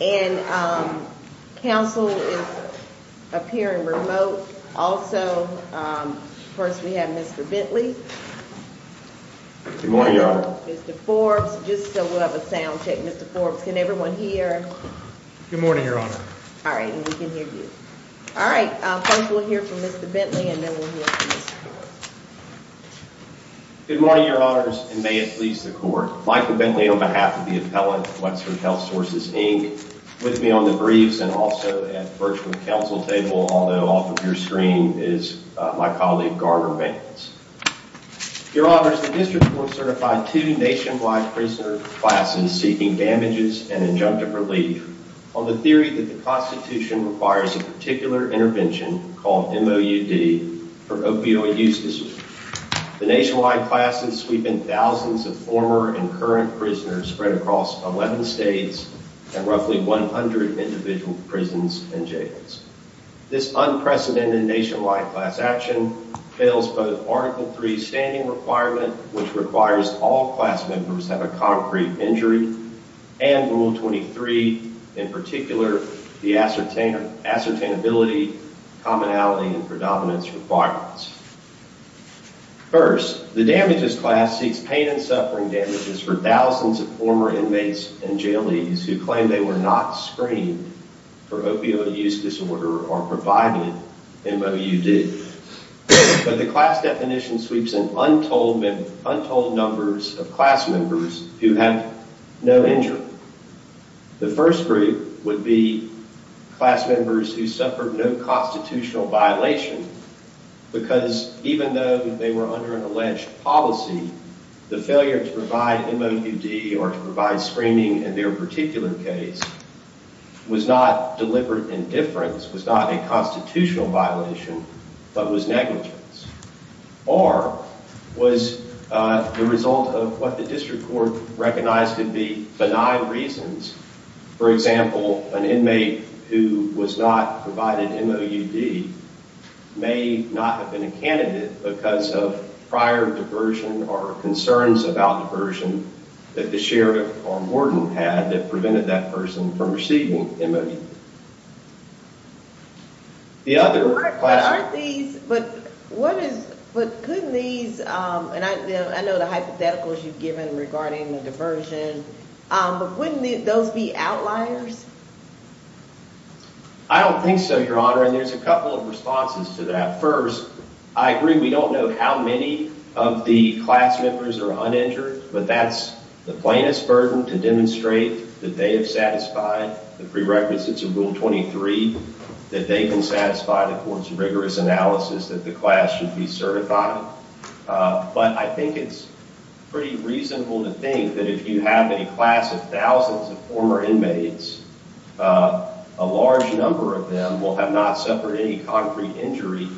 And counsel is appearing remote. Also, first we have Mr. Bentley. Good morning, Your Honor. Mr. Forbes, just so we'll have a sound check. Mr. Forbes, can everyone hear? Good morning, Your Honor. All right, and we can hear you. All right, first we'll hear from Mr. Bentley, and then we'll hear from Mr. Forbes. Good morning, Your Honors, and may it please the court. Michael Bentley on behalf of the appellant, Wexford Health Sources, Inc., with me on the briefs and also at virtual counsel table, although off of your screen is my colleague, Garner Vance. Your Honors, the district court certified two nationwide prisoner classes seeking damages and injunctive relief on the theory that the Constitution requires a particular intervention called MOUD for opioid use disease. The nationwide classes sweep in thousands of former and current prisoners spread across 11 states and roughly 100 individual prisons and jails. This unprecedented nationwide class action fails both Article III standing requirement, which requires all class members have a concrete injury, and Rule 23, in particular, the ascertainability, commonality, and predominance requirements. First, the damages class seeks pain and suffering damages for thousands of former inmates and jailees who claim they were not screened for opioid use disorder or provided MOUD. But the class definition sweeps in untold numbers of class members who have no injury. The first group would be class members who suffered no constitutional violation because even though they were under an alleged policy, the failure to provide MOUD or to provide screening in their particular case was not deliberate indifference, was not a constitutional violation, but was negligence, or was the result of what the district court recognized to be benign reasons. For example, an inmate who was not provided MOUD may not have been a candidate because of prior diversion or concerns about diversion that the sheriff or warden had that prevented that person from receiving MOUD. The other class... Aren't these, but what is, but couldn't these, and I know the hypotheticals you've given regarding the diversion, but wouldn't those be outliers? I don't think so, Your Honor, and there's a couple of responses to that. First, I agree we don't know how many of the class members are uninjured, but that's the plainest burden to demonstrate that they have satisfied the prerequisites of Rule 23, that they can satisfy the court's rigorous analysis that the class should be certified. But I think it's pretty reasonable to think that if you have a class of thousands of former inmates, a large number of them will have not suffered any concrete injury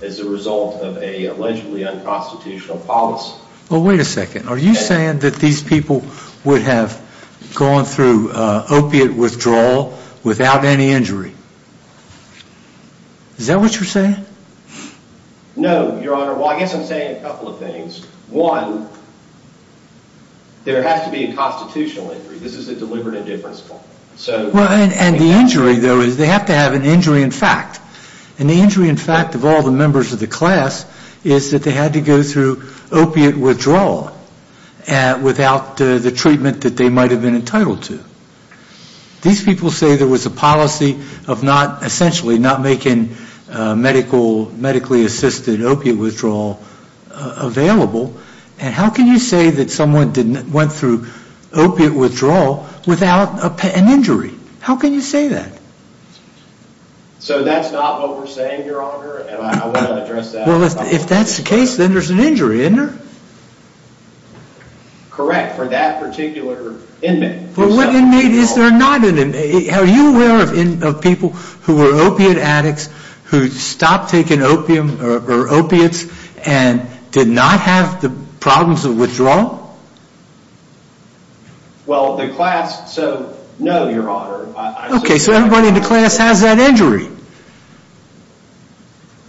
as a result of an allegedly unconstitutional policy. Well, wait a second. Are you saying that these people would have gone through opiate withdrawal without any injury? Is that what you're saying? No, Your Honor. Well, I guess I'm saying a couple of things. One, there has to be a constitutional injury. This is a deliberate indifference point. Well, and the injury, though, is they have to have an injury in fact. And the injury in fact of all the members of the class is that they had to go through opiate withdrawal without the treatment that they might have been entitled to. These people say there was a policy of not, essentially, not making medically-assisted opiate withdrawal available. And how can you say that someone went through opiate withdrawal without an injury? How can you say that? So that's not what we're saying, Your Honor, and I want to address that. Well, if that's the case, then there's an injury, isn't there? Correct, for that particular inmate. But what inmate is there not an inmate? Are you aware of people who were opiate addicts who stopped taking opium or opiates and did not have the problems of withdrawal? Well, the class, so no, Your Honor. Okay, so everybody in the class has that injury.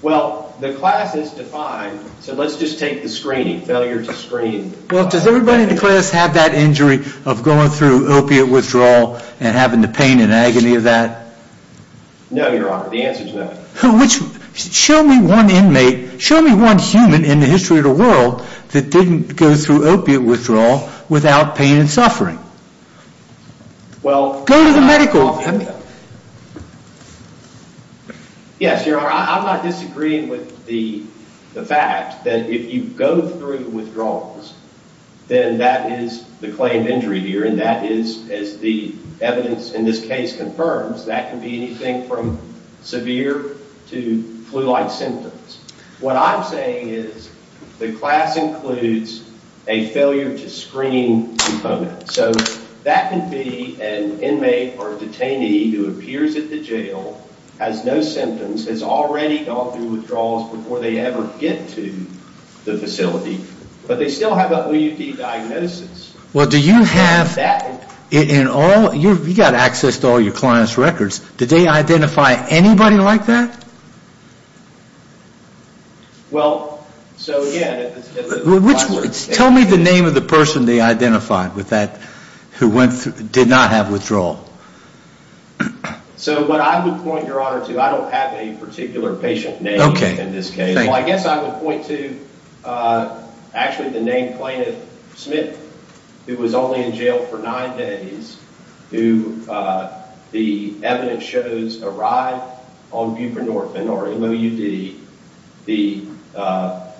Well, the class is defined. So let's just take the screening, failure to screen. Well, does everybody in the class have that injury of going through opiate withdrawal and having the pain and agony of that? No, Your Honor, the answer's no. Which, show me one inmate, show me one human in the history of the world that didn't go through opiate withdrawal without pain and suffering. Well, go to the medical. Yes, Your Honor, I'm not disagreeing with the fact that if you go through withdrawals, then that is the claim of injury here. And that is, as the evidence in this case confirms, that can be anything from severe to flu-like symptoms. What I'm saying is the class includes a failure to screen component. So that can be an inmate or a detainee who appears at the jail, has no symptoms, has already gone through withdrawals before they ever get to the facility, but they still have a OUD diagnosis. Well, do you have, in all, you've got access to all your clients' records. Did they identify anybody like that? Well, so again, Tell me the name of the person they identified with that, who went through, did not have withdrawal. So what I would point, Your Honor, to, I don't have a particular patient name in this case. I guess I would point to actually the named plaintiff, Smith, who was only in jail for nine days, who the evidence shows arrived on buprenorphine or MOUD. The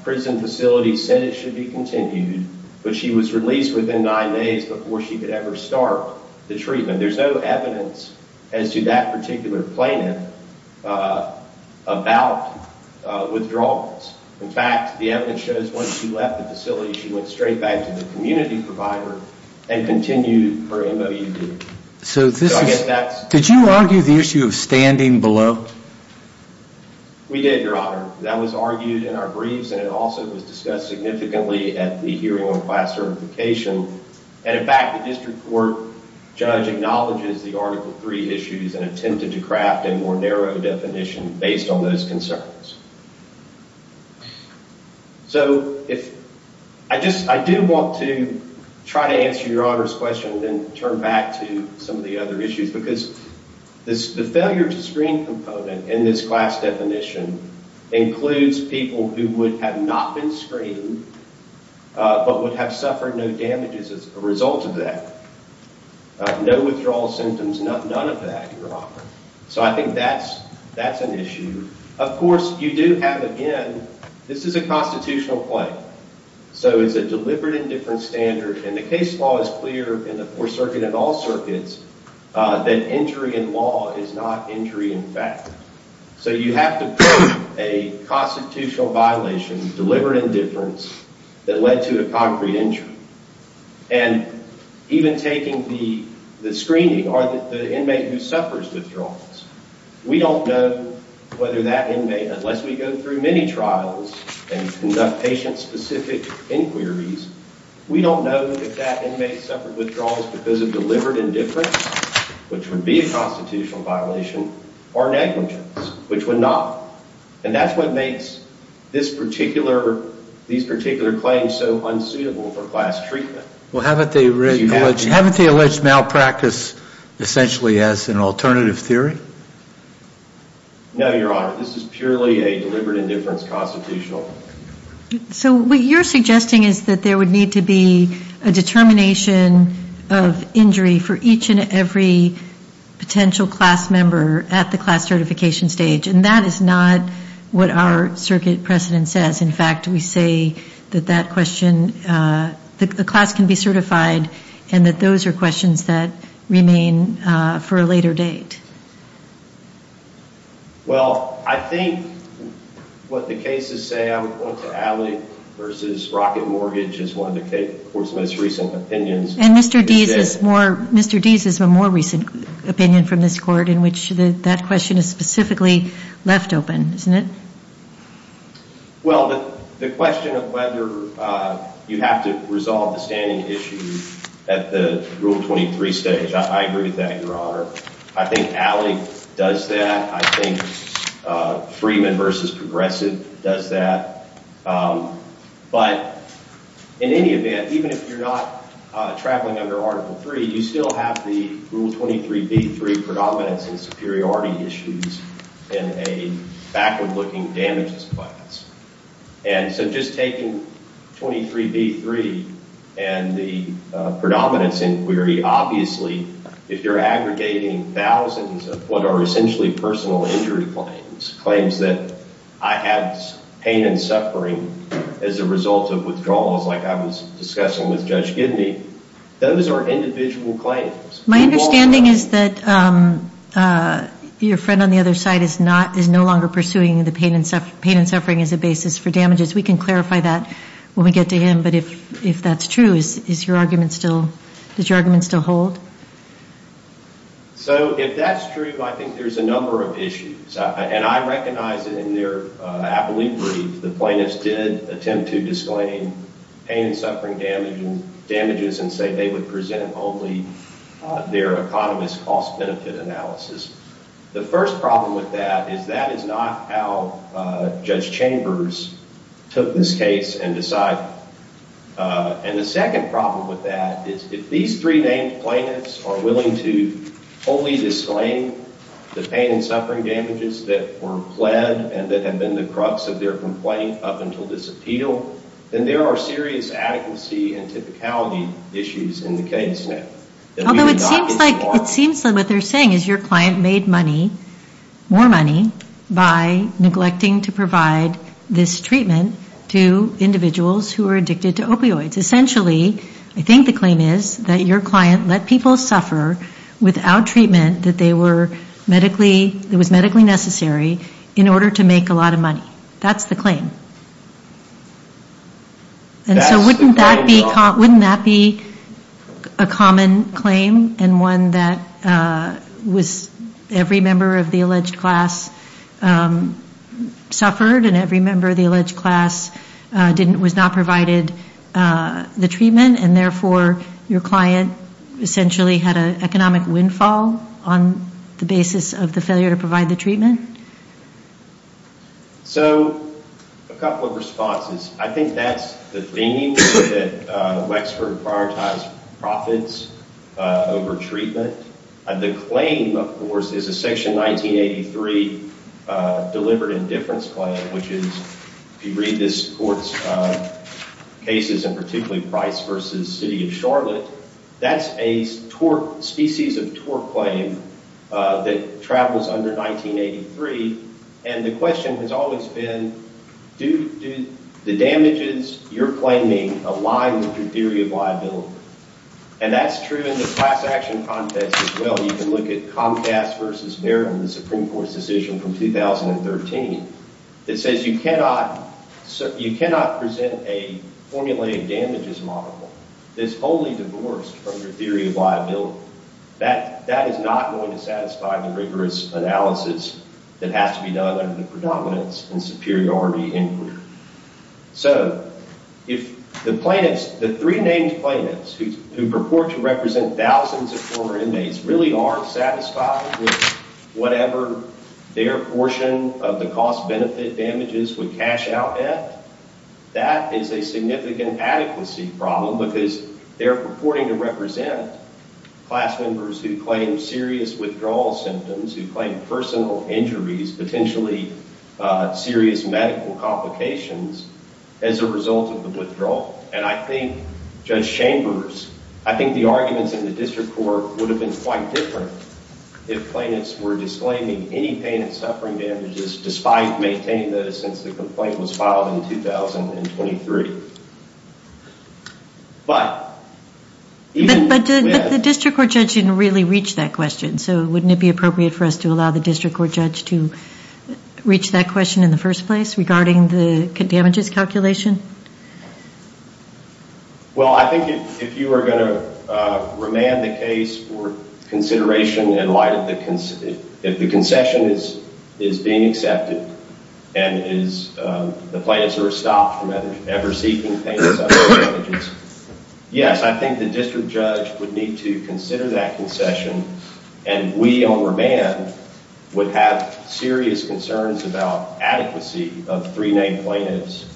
prison facility said it should be continued, but she was released within nine days before she could ever start the treatment. There's no evidence as to that particular plaintiff about withdrawals. In fact, the evidence shows once she left the facility, she went straight back to the community provider and continued her MOUD. Did you argue the issue of standing below? We did, Your Honor. That was argued in our briefs, and it also was discussed significantly at the hearing on class certification. And in fact, the district court judge acknowledges the Article III issues and attempted to craft a more narrow definition based on those concerns. So I do want to try to answer Your Honor's question and then turn back to some of the other issues, because the failure to screen component in this class definition includes people who would have not been screened but would have suffered no damages as a result of that, no withdrawal symptoms, none of that, Your Honor. So I think that's an issue. Of course, you do have, again, this is a constitutional claim. So it's a deliberate and different standard, and the case law is clear in the Fourth Circuit and all circuits that injury in law is not injury in fact. So you have to prove a constitutional violation, deliberate indifference, that led to a concrete injury. And even taking the screening or the inmate who suffers withdrawals, we don't know whether that inmate, unless we go through many trials and conduct patient-specific inquiries, we don't know if that inmate suffered withdrawals because of deliberate indifference, which would be a constitutional violation, or negligence, which would not. And that's what makes these particular claims so unsuitable for class treatment. Well, haven't they alleged malpractice essentially as an alternative theory? No, Your Honor. This is purely a deliberate indifference constitutional. So what you're suggesting is that there would need to be a determination of injury for each and every potential class member at the class certification stage. And that is not what our circuit precedent says. In fact, we say that that question, the class can be certified, and that those are questions that remain for a later date. Well, I think what the cases say, I'm going to allay versus rocket mortgage is one of the court's most recent opinions. And Mr. Deese has a more recent opinion from this court in which that question is specifically left open, isn't it? Well, the question of whether you have to resolve the standing issue at the Rule 23 stage, I agree with that, Your Honor. I think Alley does that. I think Freeman versus Progressive does that. But in any event, even if you're not traveling under Article 3, you still have the Rule 23b3 predominance and superiority issues in a backward-looking damages class. And so just taking 23b3 and the predominance inquiry, obviously, if you're aggregating thousands of what are essentially personal injury claims, claims that I had pain and suffering as a result of withdrawals, like I was discussing with Judge Gidney, those are individual claims. My understanding is that your friend on the other side is no longer pursuing the pain and suffering as a basis for damages. We can clarify that when we get to him. But if that's true, does your argument still hold? So if that's true, I think there's a number of issues. And I recognize that in their appellate brief, the plaintiffs did attempt to disclaim pain and suffering damages and say they would present only their economist cost-benefit analysis. The first problem with that is that is not how Judge Chambers took this case and decided on it. And the second problem with that is if these three named plaintiffs are willing to wholly disclaim the pain and suffering damages that were pled and that have been the crux of their complaint up until this appeal, then there are serious adequacy and typicality issues in the case now. Although it seems like what they're saying is your client made money, more money, by neglecting to provide this treatment to individuals who are addicted to opioids. Essentially, I think the claim is that your client let people suffer without treatment that they were medically, that was medically necessary in order to make a lot of money. That's the claim. And so wouldn't that be, wouldn't that be a common claim and one that was every member of the alleged class suffered and every member of the alleged class was not provided the treatment and therefore your client essentially had an economic windfall on the basis of the failure to provide the treatment? So a couple of responses. I think that's the thing that Wexford prioritized profits over treatment. The claim, of course, is a section 1983 delivered indifference claim, which is, if you read this court's cases and particularly Price v. City of Charlotte, that's a tort, species of tort claim that travels under 1983. And the question has always been, do the damages you're claiming align with your theory of And that's true in the class action context as well. You can look at Comcast v. Merriman, the Supreme Court's decision from 2013. It says you cannot present a formulated damages model that is wholly divorced from your theory of liability. That is not going to satisfy the rigorous analysis that has to be done under the predominance in superiority inquiry. So if the plaintiffs, the three named plaintiffs who purport to represent thousands of former inmates really aren't satisfied with whatever their portion of the cost-benefit damages would cash out at, that is a significant adequacy problem because they're purporting to represent class members who claim serious withdrawal symptoms, who claim personal injuries, potentially serious medical complications as a result of the withdrawal. And I think Judge Chambers, I think the arguments in the district court would have been quite different if plaintiffs were disclaiming any pain and suffering damages, despite maintaining those since the complaint was filed in 2023. But even— But the district court judge didn't really reach that question, so wouldn't it be appropriate for us to allow the district court judge to reach that question in the first place regarding the damages calculation? Well, I think if you are going to remand the case for consideration in light of the— if the concession is being accepted and the plaintiffs are stopped from ever seeking pain and suffering damages, yes, I think the district judge would need to consider that concession and we on remand would have serious concerns about adequacy of three-name plaintiffs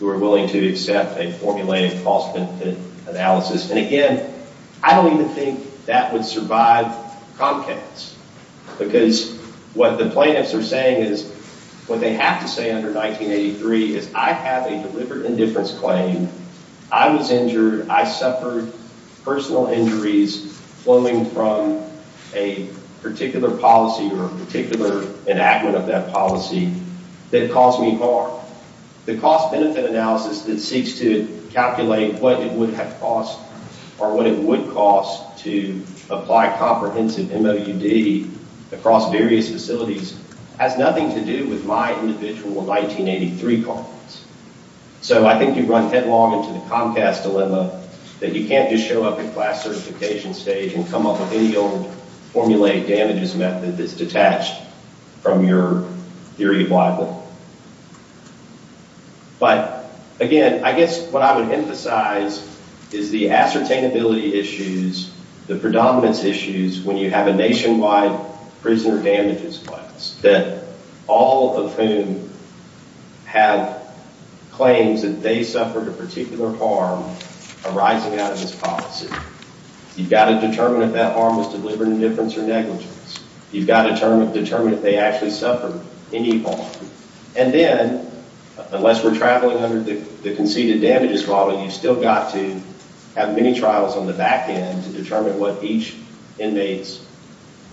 who are willing to accept a formulated cost-benefit analysis. And again, I don't even think that would survive Comcast because what the plaintiffs are saying is—what they have to say under 1983 is, I have a delivered indifference claim, I was injured, I suffered personal injuries flowing from a particular policy or a particular enactment of that policy that caused me harm. The cost-benefit analysis that seeks to calculate what it would have cost or what it would cost to apply comprehensive MOUD across various facilities has nothing to do with my individual 1983 comments. So I think you run headlong into the Comcast dilemma that you can't just show up at class certification stage and come up with any old formulated damages method that's detached from your theory of libel. But again, I guess what I would emphasize is the ascertainability issues, the predominance issues when you have a nationwide prisoner damages class that all of whom have claims that they suffered a particular harm arising out of this policy. You've got to determine if that harm was delivered indifference or negligence. You've got to determine if they actually suffered any harm. And then, unless we're traveling under the conceded damages model, you've still got to have many trials on the back end to determine what each inmate's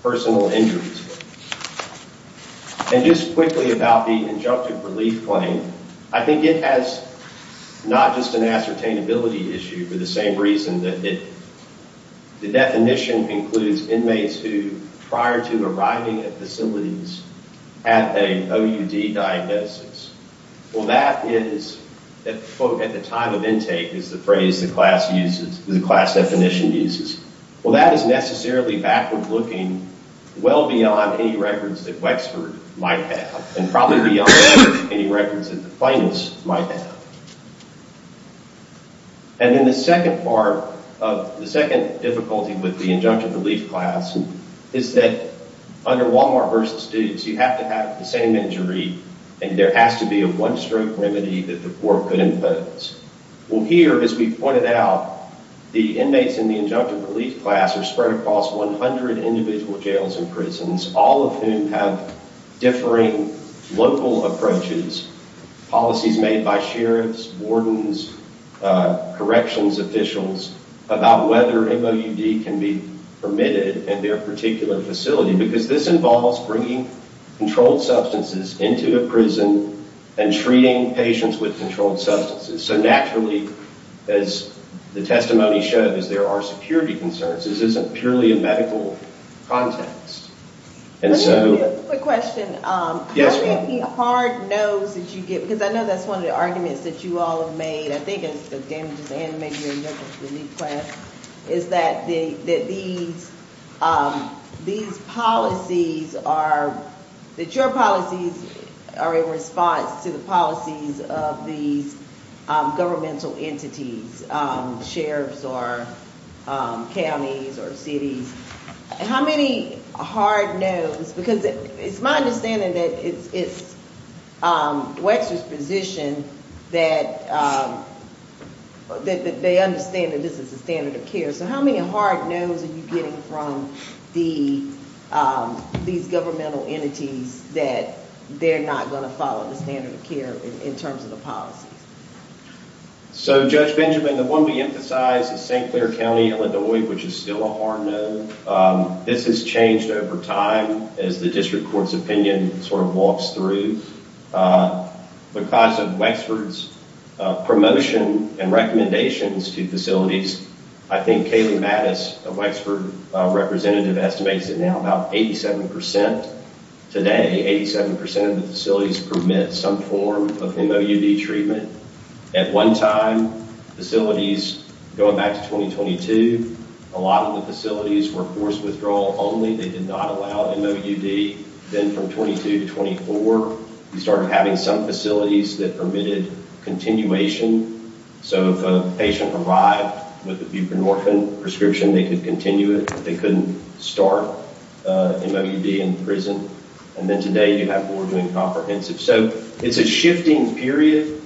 personal injuries were. And just quickly about the injunctive relief claim, I think it has not just an ascertainability issue for the same reason that the definition includes inmates who, prior to arriving at facilities, had a OUD diagnosis. Well, that is at the time of intake is the phrase the class uses, the class definition uses. Well, that is necessarily backward looking, well beyond any records that Wexford might have and probably beyond any records that the plaintiffs might have. And then the second part of the second difficulty with the injunctive relief class is that under Walmart versus Dukes, you have to have the same injury and there has to be a one-stroke remedy that the court could impose. Well, here, as we pointed out, the inmates in the injunctive relief class are spread across 100 individual jails and prisons, all of whom have differing local approaches, policies made by sheriffs, wardens, corrections officials about whether MOUD can be permitted at their particular facility. Because this involves bringing controlled substances into a prison and treating patients with controlled substances. So naturally, as the testimony showed, as there are security concerns, this isn't purely a medical context. Let me ask you a quick question. Yes, ma'am. Hard knows that you get, because I know that's one of the arguments that you all have made, I think, as Dan just animated the injunctive relief class, is that these policies are, that your policies are in response to the policies of these governmental entities, sheriffs or counties or cities. How many hard knows? Because it's my understanding that it's Wexler's position that they understand that this is the standard of care. So how many hard knows are you getting from these governmental entities that they're not going to follow the standard of care in terms of the policies? So, Judge Benjamin, the one we emphasize is St. Clair County, Illinois, which is still a hard know. This has changed over time as the district court's opinion sort of walks through. Because of Wexler's promotion and recommendations to facilities, I think Kaylee Mattis, a Wexler representative, estimates that now about 87% today, 87% of the facilities permit some form of MOUD treatment. At one time, facilities, going back to 2022, a lot of the facilities were forced withdrawal only. They did not allow MOUD. Then from 22 to 24, you started having some facilities that permitted continuation. So if a patient arrived with a buprenorphine prescription, they could continue it. They couldn't start MOUD in prison. And then today, you have more doing comprehensive. So it's a shifting period.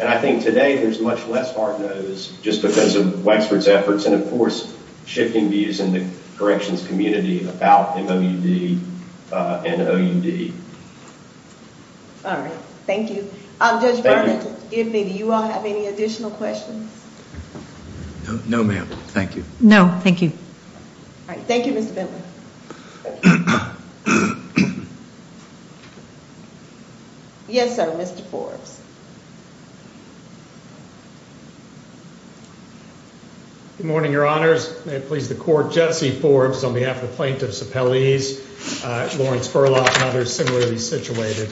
And I think today, there's much less hard no's just because of Wexler's efforts and, of course, shifting views in the corrections community about MOUD and OUD. All right. Thank you. Judge Bentley, do you all have any additional questions? No, ma'am. Thank you. No, thank you. All right. Thank you, Mr. Bentley. Yes, sir. Mr. Forbes. Good morning, your honors. May it please the court. Jesse Forbes on behalf of plaintiff's appellees, Lawrence Burlock and others similarly situated.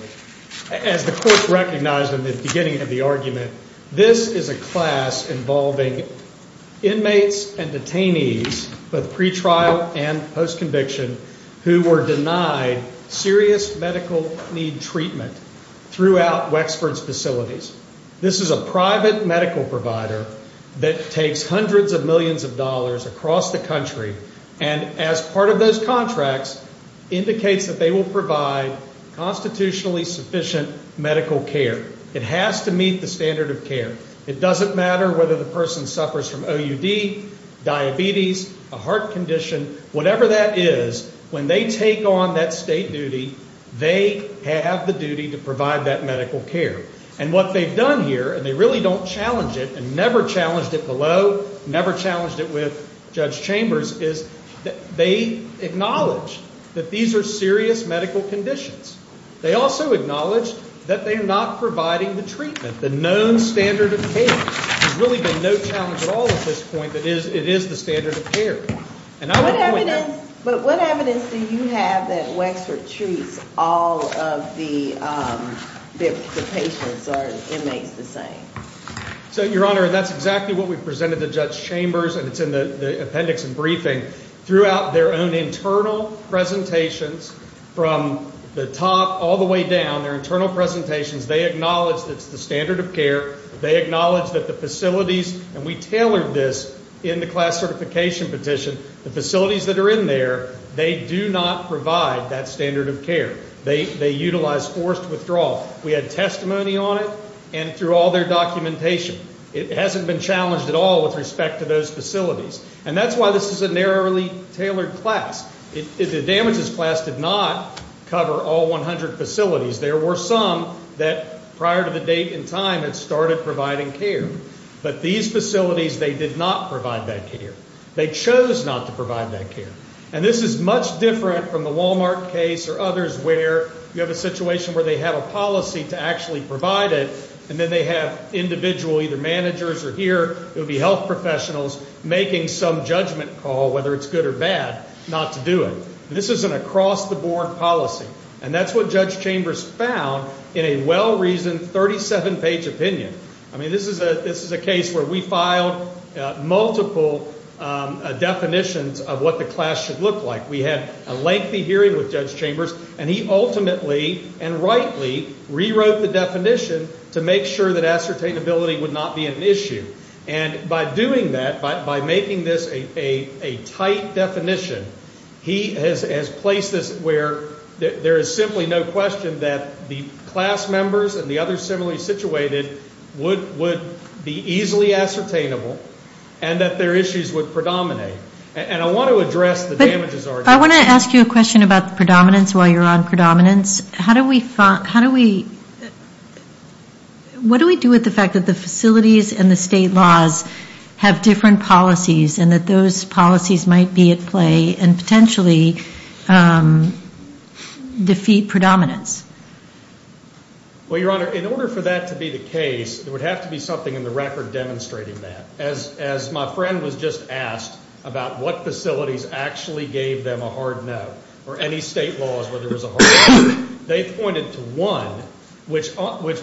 As the court recognized in the beginning of the argument, this is a class involving inmates and detainees, both pretrial and post-conviction, who were denied serious medical need treatment. Throughout Wexford's facilities. This is a private medical provider that takes hundreds of millions of dollars across the country and as part of those contracts, indicates that they will provide constitutionally sufficient medical care. It has to meet the standard of care. It doesn't matter whether the person suffers from OUD, diabetes, a heart condition, whatever that is, when they take on that state duty, they have the duty to provide that medical care. And what they've done here, and they really don't challenge it and never challenged it below, never challenged it with Judge Chambers, is that they acknowledge that these are serious medical conditions. They also acknowledge that they are not providing the treatment, the known standard of care. There's really been no challenge at all at this point. That is, it is the standard of care. What evidence do you have that Wexford treats all of the patients or inmates the same? So, Your Honor, that's exactly what we presented to Judge Chambers and it's in the appendix and briefing. Throughout their own internal presentations, from the top all the way down, their internal presentations, they acknowledge that it's the standard of care. They acknowledge that the facilities, and we tailored this in the class certification petition, the facilities that are in there, they do not provide that standard of care. They utilize forced withdrawal. We had testimony on it and through all their documentation. It hasn't been challenged at all with respect to those facilities. And that's why this is a narrowly tailored class. The damages class did not cover all 100 facilities. There were some that, prior to the date and time, had started providing care. But these facilities, they did not provide that care. They chose not to provide that care. And this is much different from the Walmart case or others where you have a situation where they have a policy to actually provide it and then they have individual, either managers or here, it would be health professionals, making some judgment call, whether it's good or bad, not to do it. This is an across-the-board policy. And that's what Judge Chambers found in a well-reasoned 37-page opinion. I mean, this is a case where we filed multiple definitions of what the class should look like. We had a lengthy hearing with Judge Chambers, and he ultimately and rightly rewrote the definition to make sure that ascertainability would not be an issue. And by doing that, by making this a tight definition, he has placed this where there is simply no question that the class members and the others similarly situated would be easily ascertainable and that their issues would predominate. And I want to address the damages argument. I want to ask you a question about the predominance while you're on predominance. How do we, what do we do with the fact that the facilities and the state laws have different policies and that those policies might be at play and potentially defeat predominance? Well, Your Honor, in order for that to be the case, there would have to be something in the record demonstrating that. As my friend was just asked about what facilities actually gave them a hard no, or any state laws where there was a hard no, they pointed to one, which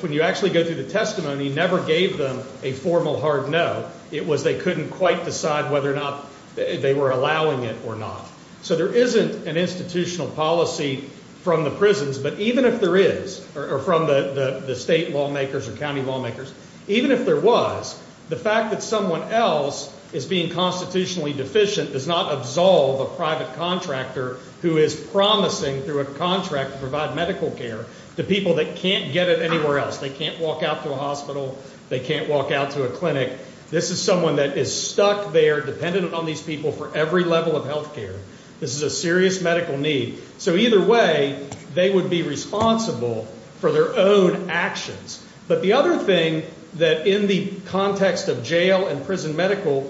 when you actually go through the testimony, never gave them a formal hard no. It was they couldn't quite decide whether or not they were allowing it or not. So there isn't an institutional policy from the prisons. But even if there is, or from the state lawmakers or county lawmakers, even if there was, the fact that someone else is being constitutionally deficient does not absolve a private contractor who is promising through a contract to provide medical care to people that can't get it anywhere else. They can't walk out to a hospital. They can't walk out to a clinic. This is someone that is stuck there dependent on these people for every level of health care. This is a serious medical need. So either way, they would be responsible for their own actions. But the other thing that in the context of jail and prison medical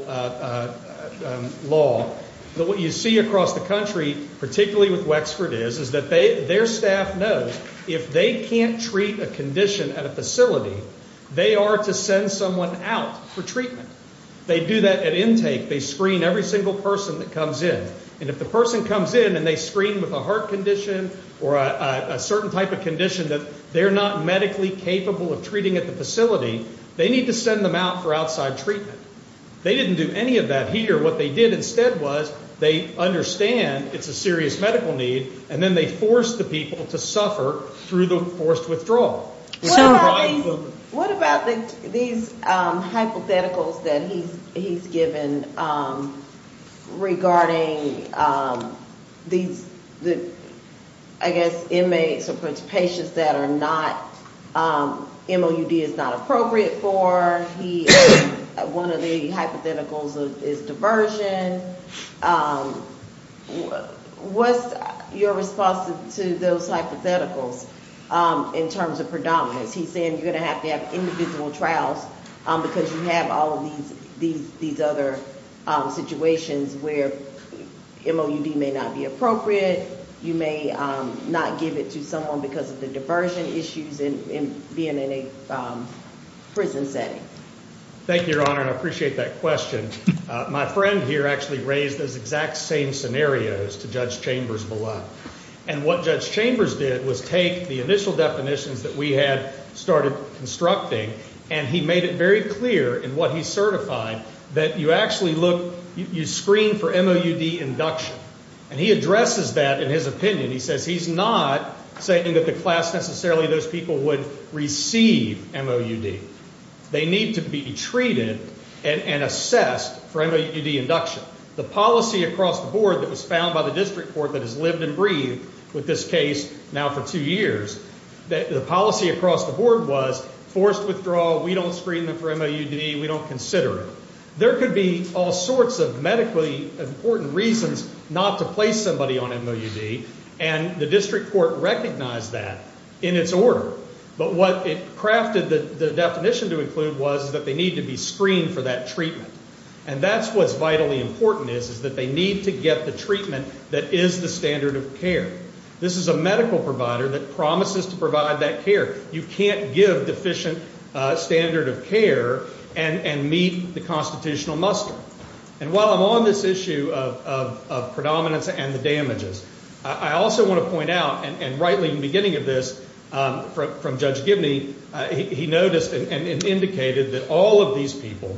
law, that what you see across the country, particularly with Wexford is, is that their staff knows if they can't treat a condition at a facility, they are to send someone out for treatment. They do that at intake. They screen every single person that comes in. And if the person comes in and they screen with a heart condition or a certain type of condition that they're not medically capable of treating at the facility, they need to send them out for outside treatment. They didn't do any of that here. What they did instead was they understand it's a serious medical need, and then they force the people to suffer through the forced withdrawal. What about these hypotheticals that he's given regarding the, I guess, inmates or patients that are not, MOUD is not appropriate for. He, one of the hypotheticals is diversion. What's your response to those hypotheticals in terms of predominance? He's saying you're going to have to have individual trials because you have all of these other situations where MOUD may not be appropriate. You may not give it to someone because of the diversion issues and being in a prison setting. Thank you, Your Honor, and I appreciate that question. My friend here actually raised those exact same scenarios to Judge Chambers below. And what Judge Chambers did was take the initial definitions that we had started constructing, and he made it very clear in what he certified that you actually look, you screen for MOUD induction. And he addresses that in his opinion. He says he's not saying that the class necessarily, those people would receive MOUD. They need to be treated and assessed for MOUD induction. The policy across the board that was found by the district court that has lived and breathed with this case now for two years, the policy across the board was forced withdrawal. We don't screen them for MOUD. We don't consider it. There could be all sorts of medically important reasons not to place somebody on MOUD, and the district court recognized that in its order. But what it crafted the definition to include was that they need to be screened for that treatment. And that's what's vitally important is, is that they need to get the treatment that is the standard of care. This is a medical provider that promises to provide that care. You can't give deficient standard of care and meet the constitutional muster. And while I'm on this issue of predominance and the damages, I also want to point out, and rightly in the beginning of this from Judge Gibney, he noticed and indicated that all of these people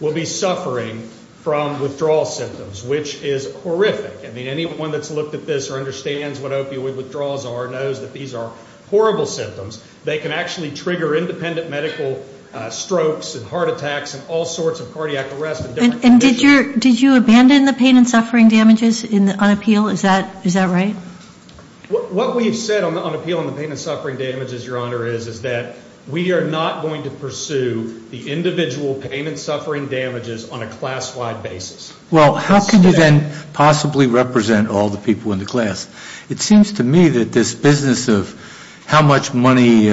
will be suffering from withdrawal symptoms, which is horrific. I mean, anyone that's looked at this or understands what opioid withdrawals are knows that these are horrible symptoms. They can actually trigger independent medical strokes and heart attacks and all sorts of cardiac arrest and different conditions. And did you abandon the pain and suffering damages on appeal? Is that right? What we've said on appeal on the pain and suffering damages, Your Honor, is that we are not going to pursue the individual pain and suffering damages on a class-wide basis. Well, how can you then possibly represent all the people in the class? It seems to me that this business of how much money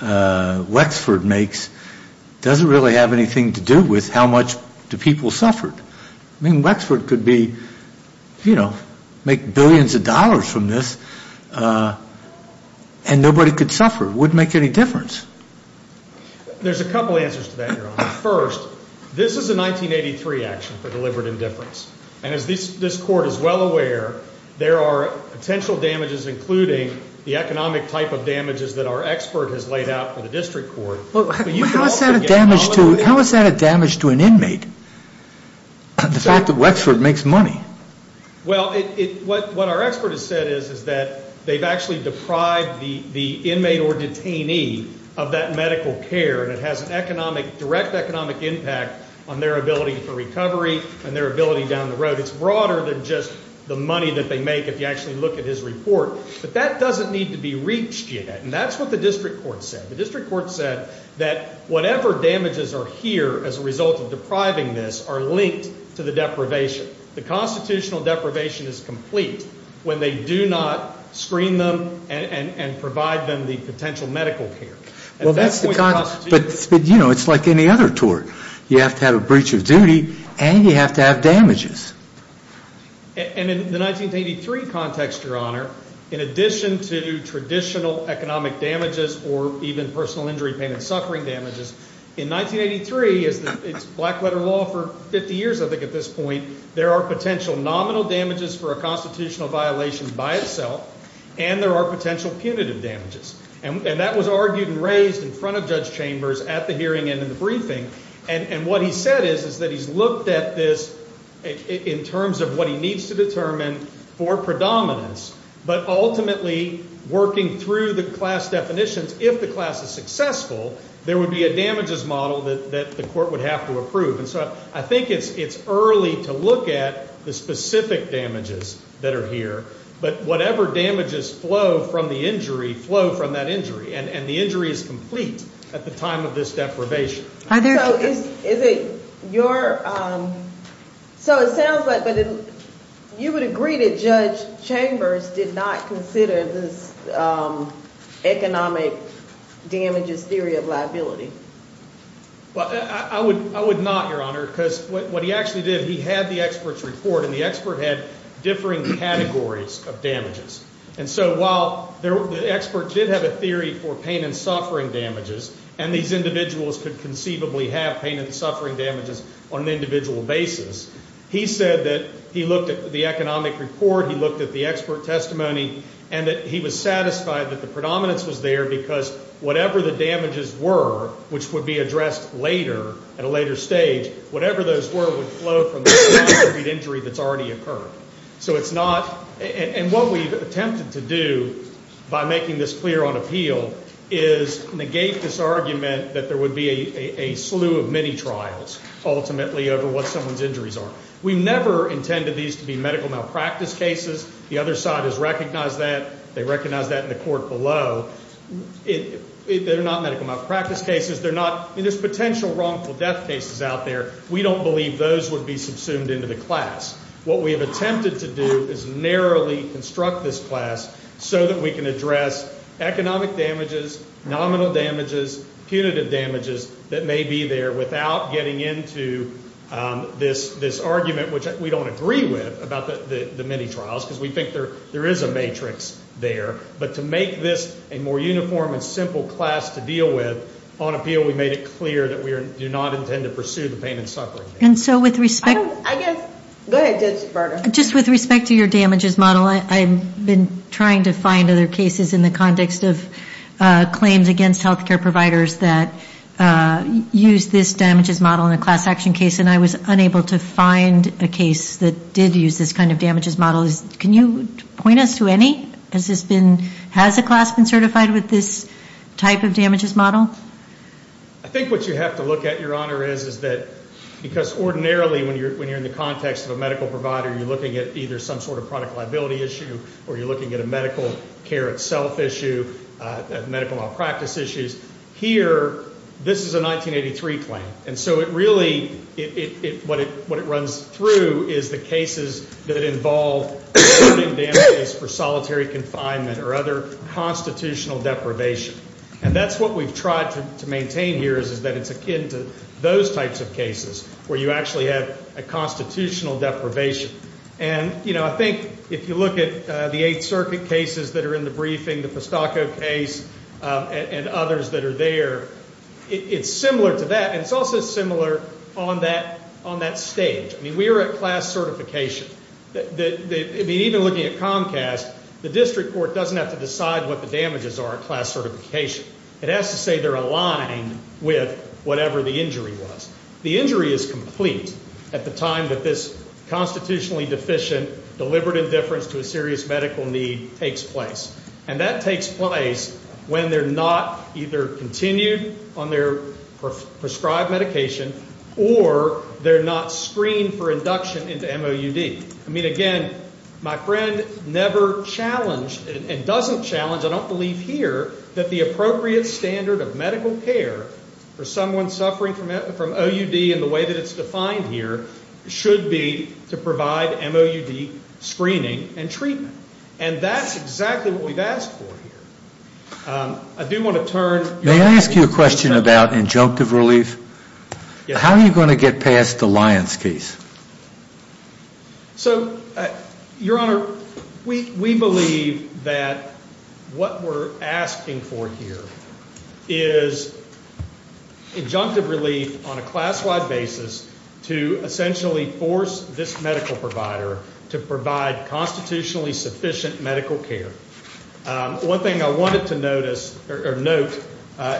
Wexford makes doesn't really have anything to do with how much do people suffer. I mean, Wexford could make billions of dollars from this and nobody could suffer. It wouldn't make any difference. There's a couple answers to that, Your Honor. First, this is a 1983 action for deliberate indifference. And as this court is well aware, there are potential damages, including the economic type of damages that our expert has laid out for the district court. How is that a damage to an inmate? The fact that Wexford makes money. Well, what our expert has said is that they've actually deprived the inmate or detainee of that medical care. And it has a direct economic impact on their ability for recovery and their ability down the road. It's broader than just the money that they make if you actually look at his report. But that doesn't need to be reached yet. And that's what the district court said. The district court said that whatever damages are here as a result of depriving this are linked to the deprivation. The constitutional deprivation is complete when they do not screen them and provide them the potential medical care. But you know, it's like any other tort. You have to have a breach of duty and you have to have damages. And in the 1983 context, Your Honor, in addition to traditional economic damages or even personal injury, pain and suffering damages in 1983, it's black letter law for 50 years. I think at this point there are potential nominal damages for a constitutional violation by itself. And there are potential punitive damages. And that was argued and raised in front of Judge Chambers at the hearing and in the briefing. And what he said is, is that he's looked at this in terms of what he needs to determine for predominance. But ultimately, working through the class definitions, if the class is successful, there would be a damages model that the court would have to approve. And so I think it's early to look at the specific damages that are here. But whatever damages flow from the injury, flow from that injury. And the injury is complete at the time of this deprivation. So it sounds like you would agree that Judge Chambers did not consider this economic damages theory of liability. Well, I would not, Your Honor. Because what he actually did, he had the expert's report. And the expert had differing categories of damages. And so while the expert did have a theory for pain and suffering damages, and these individuals could conceivably have pain and suffering damages on an individual basis, he said that he looked at the economic report, he looked at the expert testimony, and that he was satisfied that the predominance was there because whatever the damages were, which would be addressed later, at a later stage, whatever those were would flow from the injury that's already occurred. So it's not. And what we've attempted to do by making this clear on appeal is negate this argument that there would be a slew of mini-trials, ultimately, over what someone's injuries are. We've never intended these to be medical malpractice cases. The other side has recognized that. They recognize that in the court below. They're not medical malpractice cases. They're not, I mean, there's potential wrongful death cases out there. We don't believe those would be subsumed into the class. What we have attempted to do is narrowly construct this class so that we can address economic damages, nominal damages, punitive damages that may be there without getting into this argument, which we don't agree with about the mini-trials, because we think there is a matrix there. But to make this a more uniform and simple class to deal with, on appeal we made it clear that we do not intend to pursue the pain and suffering. And so with respect to your damages model, I've been trying to find other cases in the context of claims against health care providers that use this damages model in a class action case, and I was unable to find a case that did use this kind of damages model. Can you point us to any? Has a class been certified with this type of damages model? I think what you have to look at, Your Honor, is that because ordinarily when you're in the context of a medical provider, you're looking at either some sort of product liability issue or you're looking at a medical care itself issue, medical malpractice issues. Here, this is a 1983 claim. And so it really, what it runs through is the cases that involve damages for solitary confinement or other constitutional deprivation. And that's what we've tried to maintain here is that it's akin to those types of cases where you actually have a constitutional deprivation. And, you know, I think if you look at the Eighth Circuit cases that are in the briefing, the Pestaco case, and others that are there, it's similar to that. And it's also similar on that stage. I mean, we are at class certification. Even looking at Comcast, the district court doesn't have to decide what the damages are at class certification. It has to say they're aligned with whatever the injury was. The injury is complete at the time that this constitutionally deficient, deliberate indifference to a serious medical need takes place. And that takes place when they're not either continued on their prescribed medication or they're not screened for induction into MOUD. I mean, again, my friend never challenged and doesn't challenge. I don't believe here that the appropriate standard of medical care for someone suffering from OUD in the way that it's defined here should be to provide MOUD screening and treatment. And that's exactly what we've asked for here. I do want to turn... Can I ask you a question about injunctive relief? How are you going to get past the Lyons case? So, Your Honor, we believe that what we're asking for here is injunctive relief on a class-wide basis to essentially force this medical provider to provide constitutionally sufficient medical care. One thing I wanted to notice or note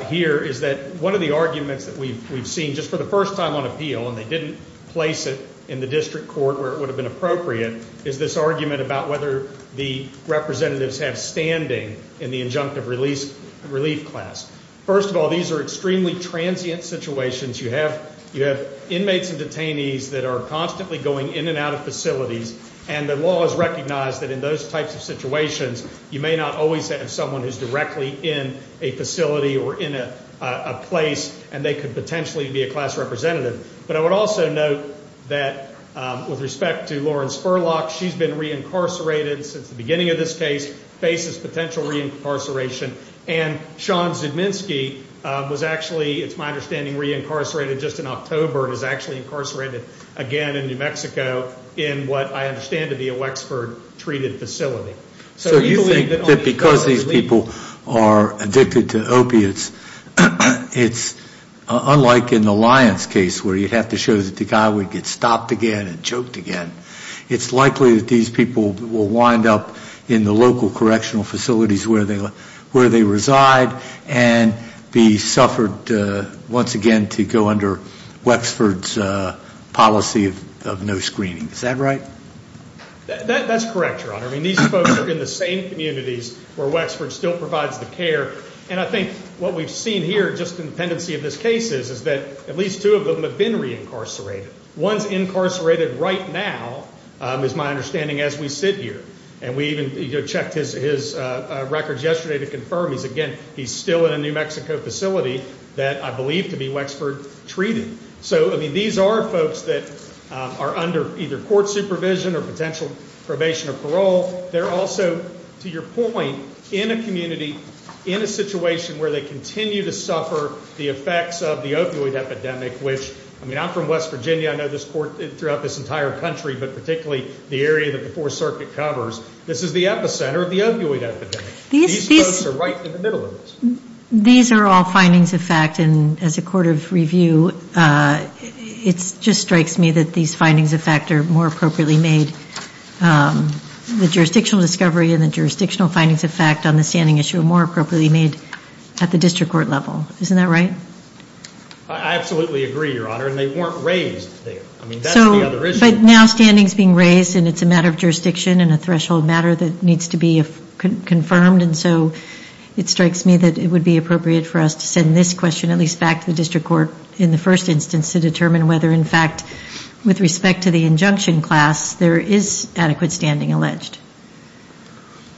here is that one of the arguments that we've seen just for the first time on appeal, and they didn't place it in the district court where it would have been appropriate, is this argument about whether the representatives have standing in the injunctive relief class. First of all, these are extremely transient situations. You have inmates and detainees that are constantly going in and out of facilities. And the law has recognized that in those types of situations, you may not always have someone who's directly in a facility or in a place, and they could potentially be a class representative. But I would also note that with respect to Lauren Spurlock, she's been reincarcerated since the beginning of this case, faces potential reincarceration. And Sean Zudminsky was actually, it's my understanding, reincarcerated just in October, and is actually incarcerated again in New Mexico in what I understand to be a Wexford treated facility. So you think that because these people are addicted to opiates, it's unlike in the Lyons case where you'd have to show that the guy would get stopped again and choked again. It's likely that these people will wind up in the local correctional facilities where they reside and be suffered once again to go under Wexford's policy of no screening. Is that right? That's correct, Your Honor. These folks are in the same communities where Wexford still provides the care. And I think what we've seen here, just in the pendency of this case, is that at least two of them have been reincarcerated. One's incarcerated right now, is my understanding, as we sit here. And we even checked his records yesterday to confirm, again, he's still in a New Mexico facility that I believe to be Wexford treated. So, I mean, these are folks that are under either court supervision or potential probation or parole. They're also, to your point, in a community, in a situation where they continue to suffer the effects of the opioid epidemic, which, I mean, I'm from West Virginia. I know this court throughout this entire country, but particularly the area that the Fourth Circuit covers. This is the epicenter of the opioid epidemic. These folks are right in the middle of this. These are all findings of fact, and as a court of review, it just strikes me that these findings of fact are more appropriately made. The jurisdictional discovery and the jurisdictional findings of fact on the standing issue are more appropriately made at the district court level. Isn't that right? I absolutely agree, Your Honor. And they weren't raised there. I mean, that's the other issue. So, but now standing's being raised, and it's a matter of jurisdiction and a threshold matter that needs to be confirmed. And so it strikes me that it would be appropriate for us to send this question at least back to the district court in the first instance to determine whether, in fact, with respect to the injunction class, there is adequate standing alleged.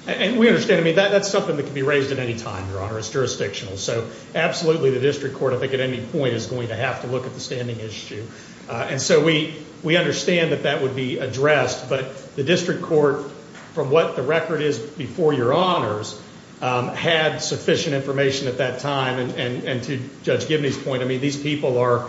And we understand. I mean, that's something that can be raised at any time, Your Honor. It's jurisdictional. So absolutely, the district court, I think, at any point is going to have to look at the standing issue. And so we understand that that would be addressed, but the district court, from what the record is before Your Honors, had sufficient information at that time. And to Judge Gibney's point, I mean, these people are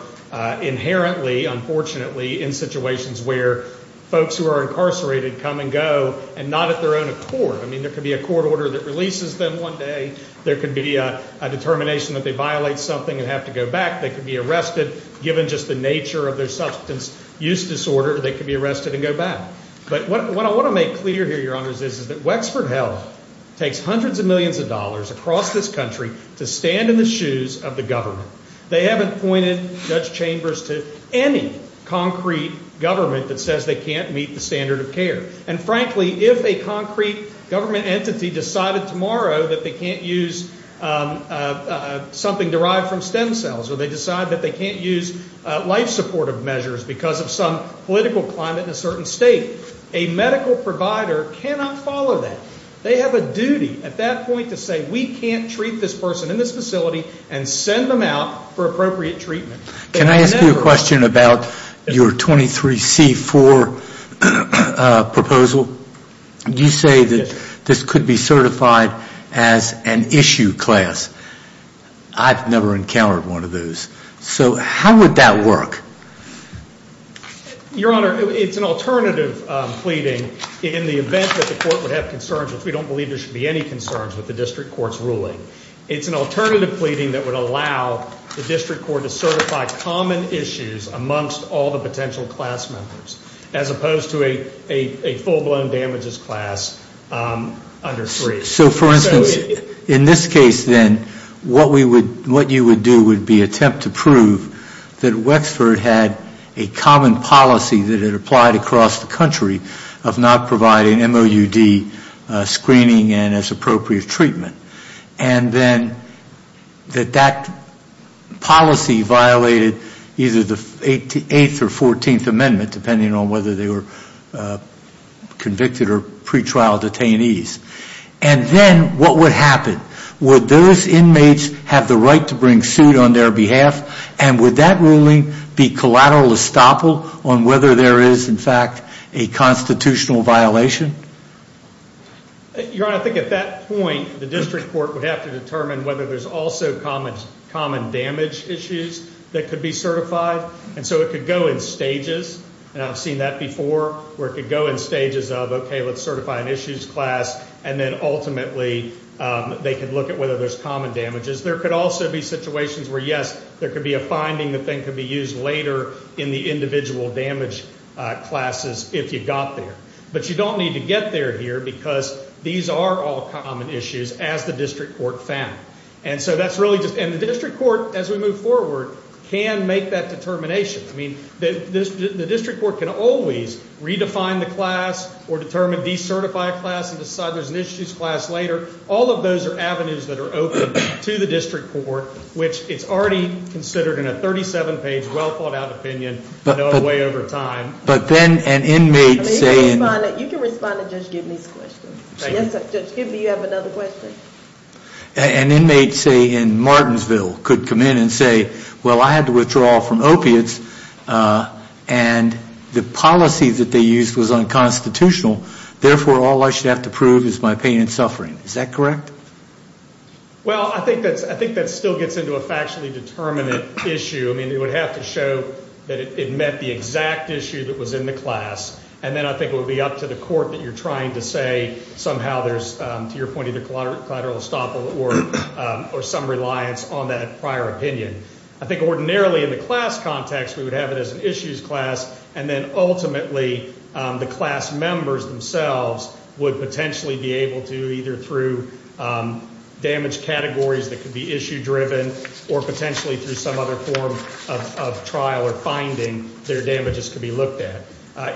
inherently, unfortunately, in situations where folks who are incarcerated come and go and not at their own accord. I mean, there could be a court order that releases them one day. There could be a determination that they violate something and have to go back. They could be arrested. Given just the nature of their substance use disorder, they could be arrested and go back. But what I want to make clear here, Your Honors, is that Wexford Health takes hundreds of millions of dollars across this country to stand in the shoes of the government. They haven't pointed Judge Chambers to any concrete government that says they can't meet the standard of care. And frankly, if a concrete government entity decided tomorrow that they can't use something derived from stem cells or they decide that they can't use life supportive measures because of some political climate in a certain state, a medical provider cannot follow that. They have a duty at that point to say, we can't treat this person in this facility and send them out for appropriate treatment. Can I ask you a question about your 23C4 proposal? You say that this could be certified as an issue class. I've never encountered one of those. So how would that work? Your Honor, it's an alternative pleading in the event that the court would have concerns, which we don't believe there should be any concerns with the district court's ruling. It's an alternative pleading that would allow the district court to certify common issues amongst all the potential class members as opposed to a full blown damages class under three. So for instance, in this case then, what you would do would be attempt to prove that Wexford had a common policy that it applied across the country of not providing MOUD screening and as appropriate treatment. And then that that policy violated either the 8th or 14th amendment, depending on whether they were convicted or pretrial detainees. And then what would happen? Would those inmates have the right to bring suit on their behalf? And would that ruling be collateral estoppel on whether there is, in fact, a constitutional violation? Your Honor, I think at that point, the district court would have to determine whether there's also common damage issues that could be certified. And so it could go in stages, and I've seen that before, where it could go in stages of, okay, let's certify an issues class, and then ultimately they could look at whether there's common damages. There could also be situations where, yes, there could be a finding that then could be used later in the individual damage classes if you got there. But you don't need to get there here because these are all common issues, as the district court found. And so that's really just... And the district court, as we move forward, can make that determination. I mean, the district court can always redefine the class or determine, decertify a class and decide there's an issues class later. All of those are avenues that are open to the district court, which it's already considered in a 37-page, well-thought-out opinion way over time. But then an inmate saying... You can respond to Judge Gibney's question. Yes, Judge Gibney, you have another question. An inmate, say, in Martinsville could come in and say, well, I had to withdraw from opiates and the policy that they used was unconstitutional, therefore, all I should have to prove is my pain and suffering. Is that correct? Well, I think that still gets into a factually determinate issue. I mean, it would have to show that it met the exact issue that was in the class. And then I think it would be up to the court that you're trying to say somehow there's, to your point, either collateral estoppel or some reliance on that prior opinion. I think ordinarily in the class context, we would have it as an issues class. And then ultimately, the class members themselves would potentially be able to either through damage categories that could be issue-driven or potentially through some other form of trial or finding their damages could be looked at.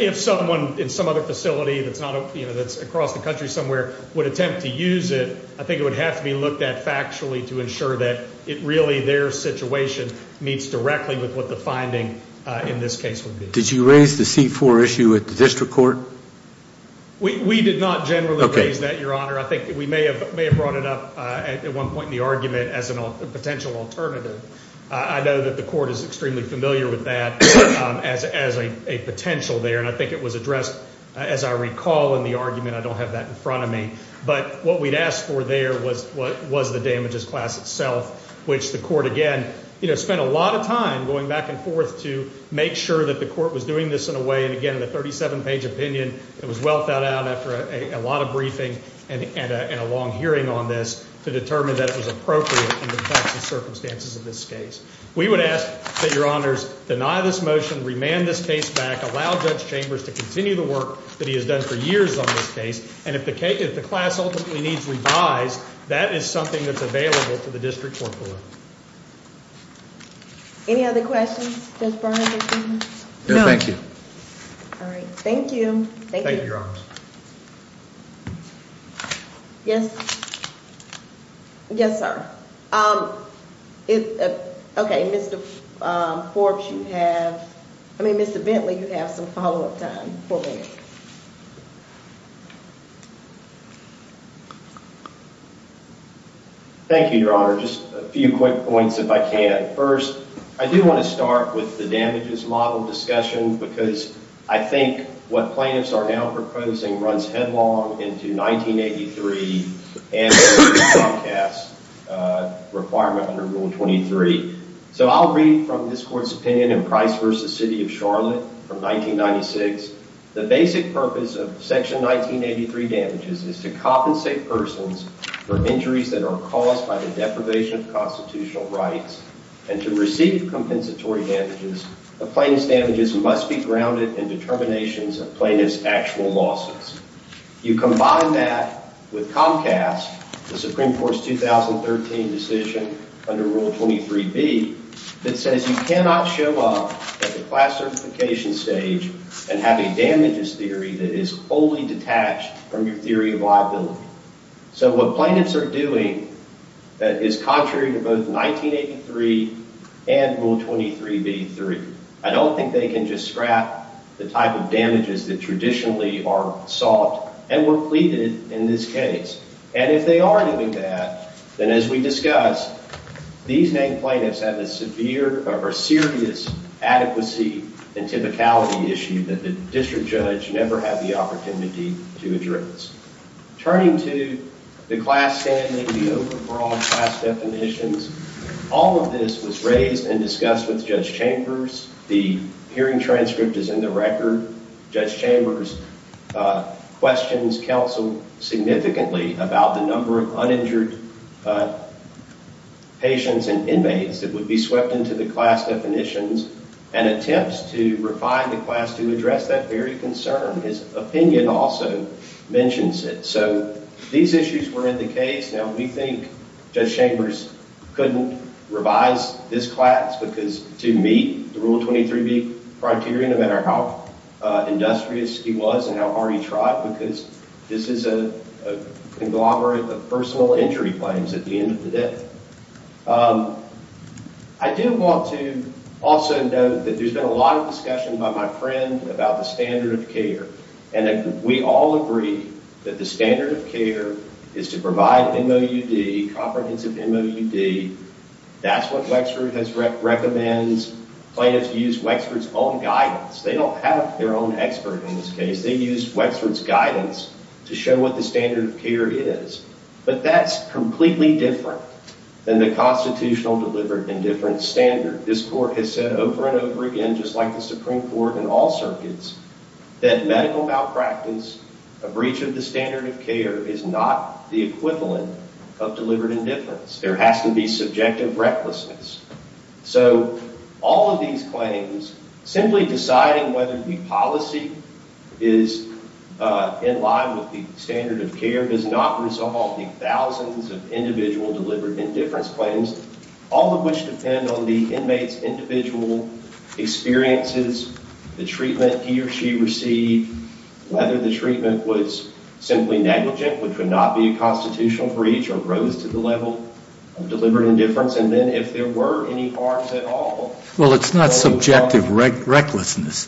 If someone in some other facility that's not, you know, that's across the country somewhere would attempt to use it, I think it would have to be looked at factually to ensure that it really, their situation meets directly with what the finding in this case would be. Did you raise the C-4 issue at the district court? We did not generally raise that, Your Honor. I think we may have brought it up at one point in the argument as a potential alternative. I know that the court is extremely familiar with that as a potential there. And I think it was addressed, as I recall, in the argument. I don't have that in front of me. But what we'd asked for there was the damages class itself, which the court, again, you know, spent a lot of time going back and forth to make sure that the court was doing this in a way. And again, the 37-page opinion, it was well thought out after a lot of briefing and a long hearing on this to determine that it was appropriate in the facts and circumstances of this case. We would ask that, Your Honors, deny this motion, remand this case back, allow Judge Chambers to continue the work that he has done for years on this case. And if the case, if the class ultimately needs revised, that is something that's available to the district court board. Any other questions? No, thank you. All right. Thank you. Thank you, Your Honors. Yes. Yes, sir. OK, Mr. Forbes, you have, I mean, Mr. Bentley, you have some follow-up time for me. Thank you, Your Honor. Just a few quick points, if I can. First, I do want to start with the damages model discussion, because I think what plaintiffs are now proposing runs headlong into 1983 and the broadcast requirement under Rule 23. So I'll read from this court's opinion in Price v. City of Charlotte from 1996. The basic purpose of Section 1983 damages is to compensate persons for injuries that are caused by the deprivation of constitutional rights. And to receive compensatory damages, the plaintiff's damages must be grounded in determinations of plaintiff's actual losses. You combine that with Comcast, the Supreme Court's 2013 decision under Rule 23b that says you cannot show up at the class certification stage and have a damages theory that is wholly detached from your theory of liability. So what plaintiffs are doing that is contrary to both 1983 and Rule 23b-3, I don't think they can just scrap the type of damages that traditionally are sought and were pleaded in this case. And if they are doing that, then as we discussed, these named plaintiffs have a severe or serious adequacy and typicality issue that the district judge never had the opportunity to address. Turning to the class standing, the overall class definitions, all of this was raised and discussed with Judge Chambers. The hearing transcript is in the record. Judge Chambers questions counsel significantly about the number of uninjured patients and inmates that would be swept into the class definitions and attempts to refine the class to address that very concern. His opinion also mentions it. So these issues were in the case. Now we think Judge Chambers couldn't revise this class to meet the Rule 23b criteria, no matter how industrious he was and how hard he tried, because this is a conglomerate of personal injury claims at the end of the day. I do want to also note that there's been a lot of discussion by my friend about the standard of care, and we all agree that the standard of care is to provide MOUD, comprehensive MOUD. That's what Wexford recommends. Plaintiffs use Wexford's own guidance. They don't have their own expert in this case. They use Wexford's guidance to show what the standard of care is. But that's completely different than the constitutional delivered indifference standard. This Court has said over and over again, just like the Supreme Court and all circuits, that medical malpractice, a breach of the standard of care, is not the equivalent of delivered indifference. There has to be subjective recklessness. So all of these claims, simply deciding whether the policy is in line with the standard of care, does not resolve the thousands of individual delivered indifference claims, all of which depend on the inmate's individual experiences, the treatment he or she received, whether the treatment was simply negligent, which would not be a constitutional breach, or rose to the level of delivered indifference, and then if there were any harms at all. Well, it's not subjective recklessness.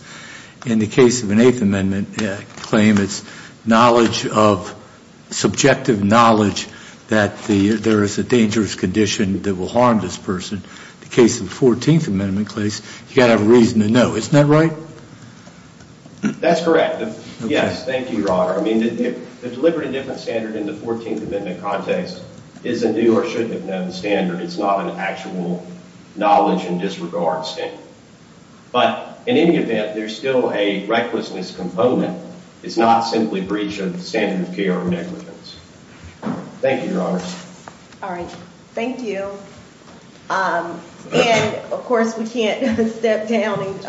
In the case of an Eighth Amendment claim, it's knowledge of, subjective knowledge that there is a dangerous condition that will harm this person. In the case of the Fourteenth Amendment case, you've got to have a reason to know. Isn't that right? That's correct. Yes, thank you, Your Honor. I mean, the delivered indifference standard in the Fourteenth Amendment context is a new or should have known standard. It's not an actual knowledge and disregard standard. But in any event, there's still a recklessness component. It's not simply breach of the standard of care of negligence. Thank you, Your Honor. All right. Thank you. And of course, we can't step down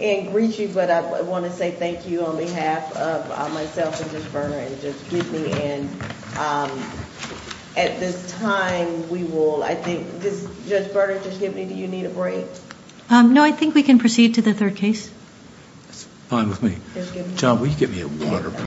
and greet you, but I want to say thank you on behalf of myself and Judge Berner and Judge Gibney. And at this time, we will, I think, Judge Berner, Judge Gibney, do you need a break? No, I think we can proceed to the third case. That's fine with me. John, will you get me a water, please?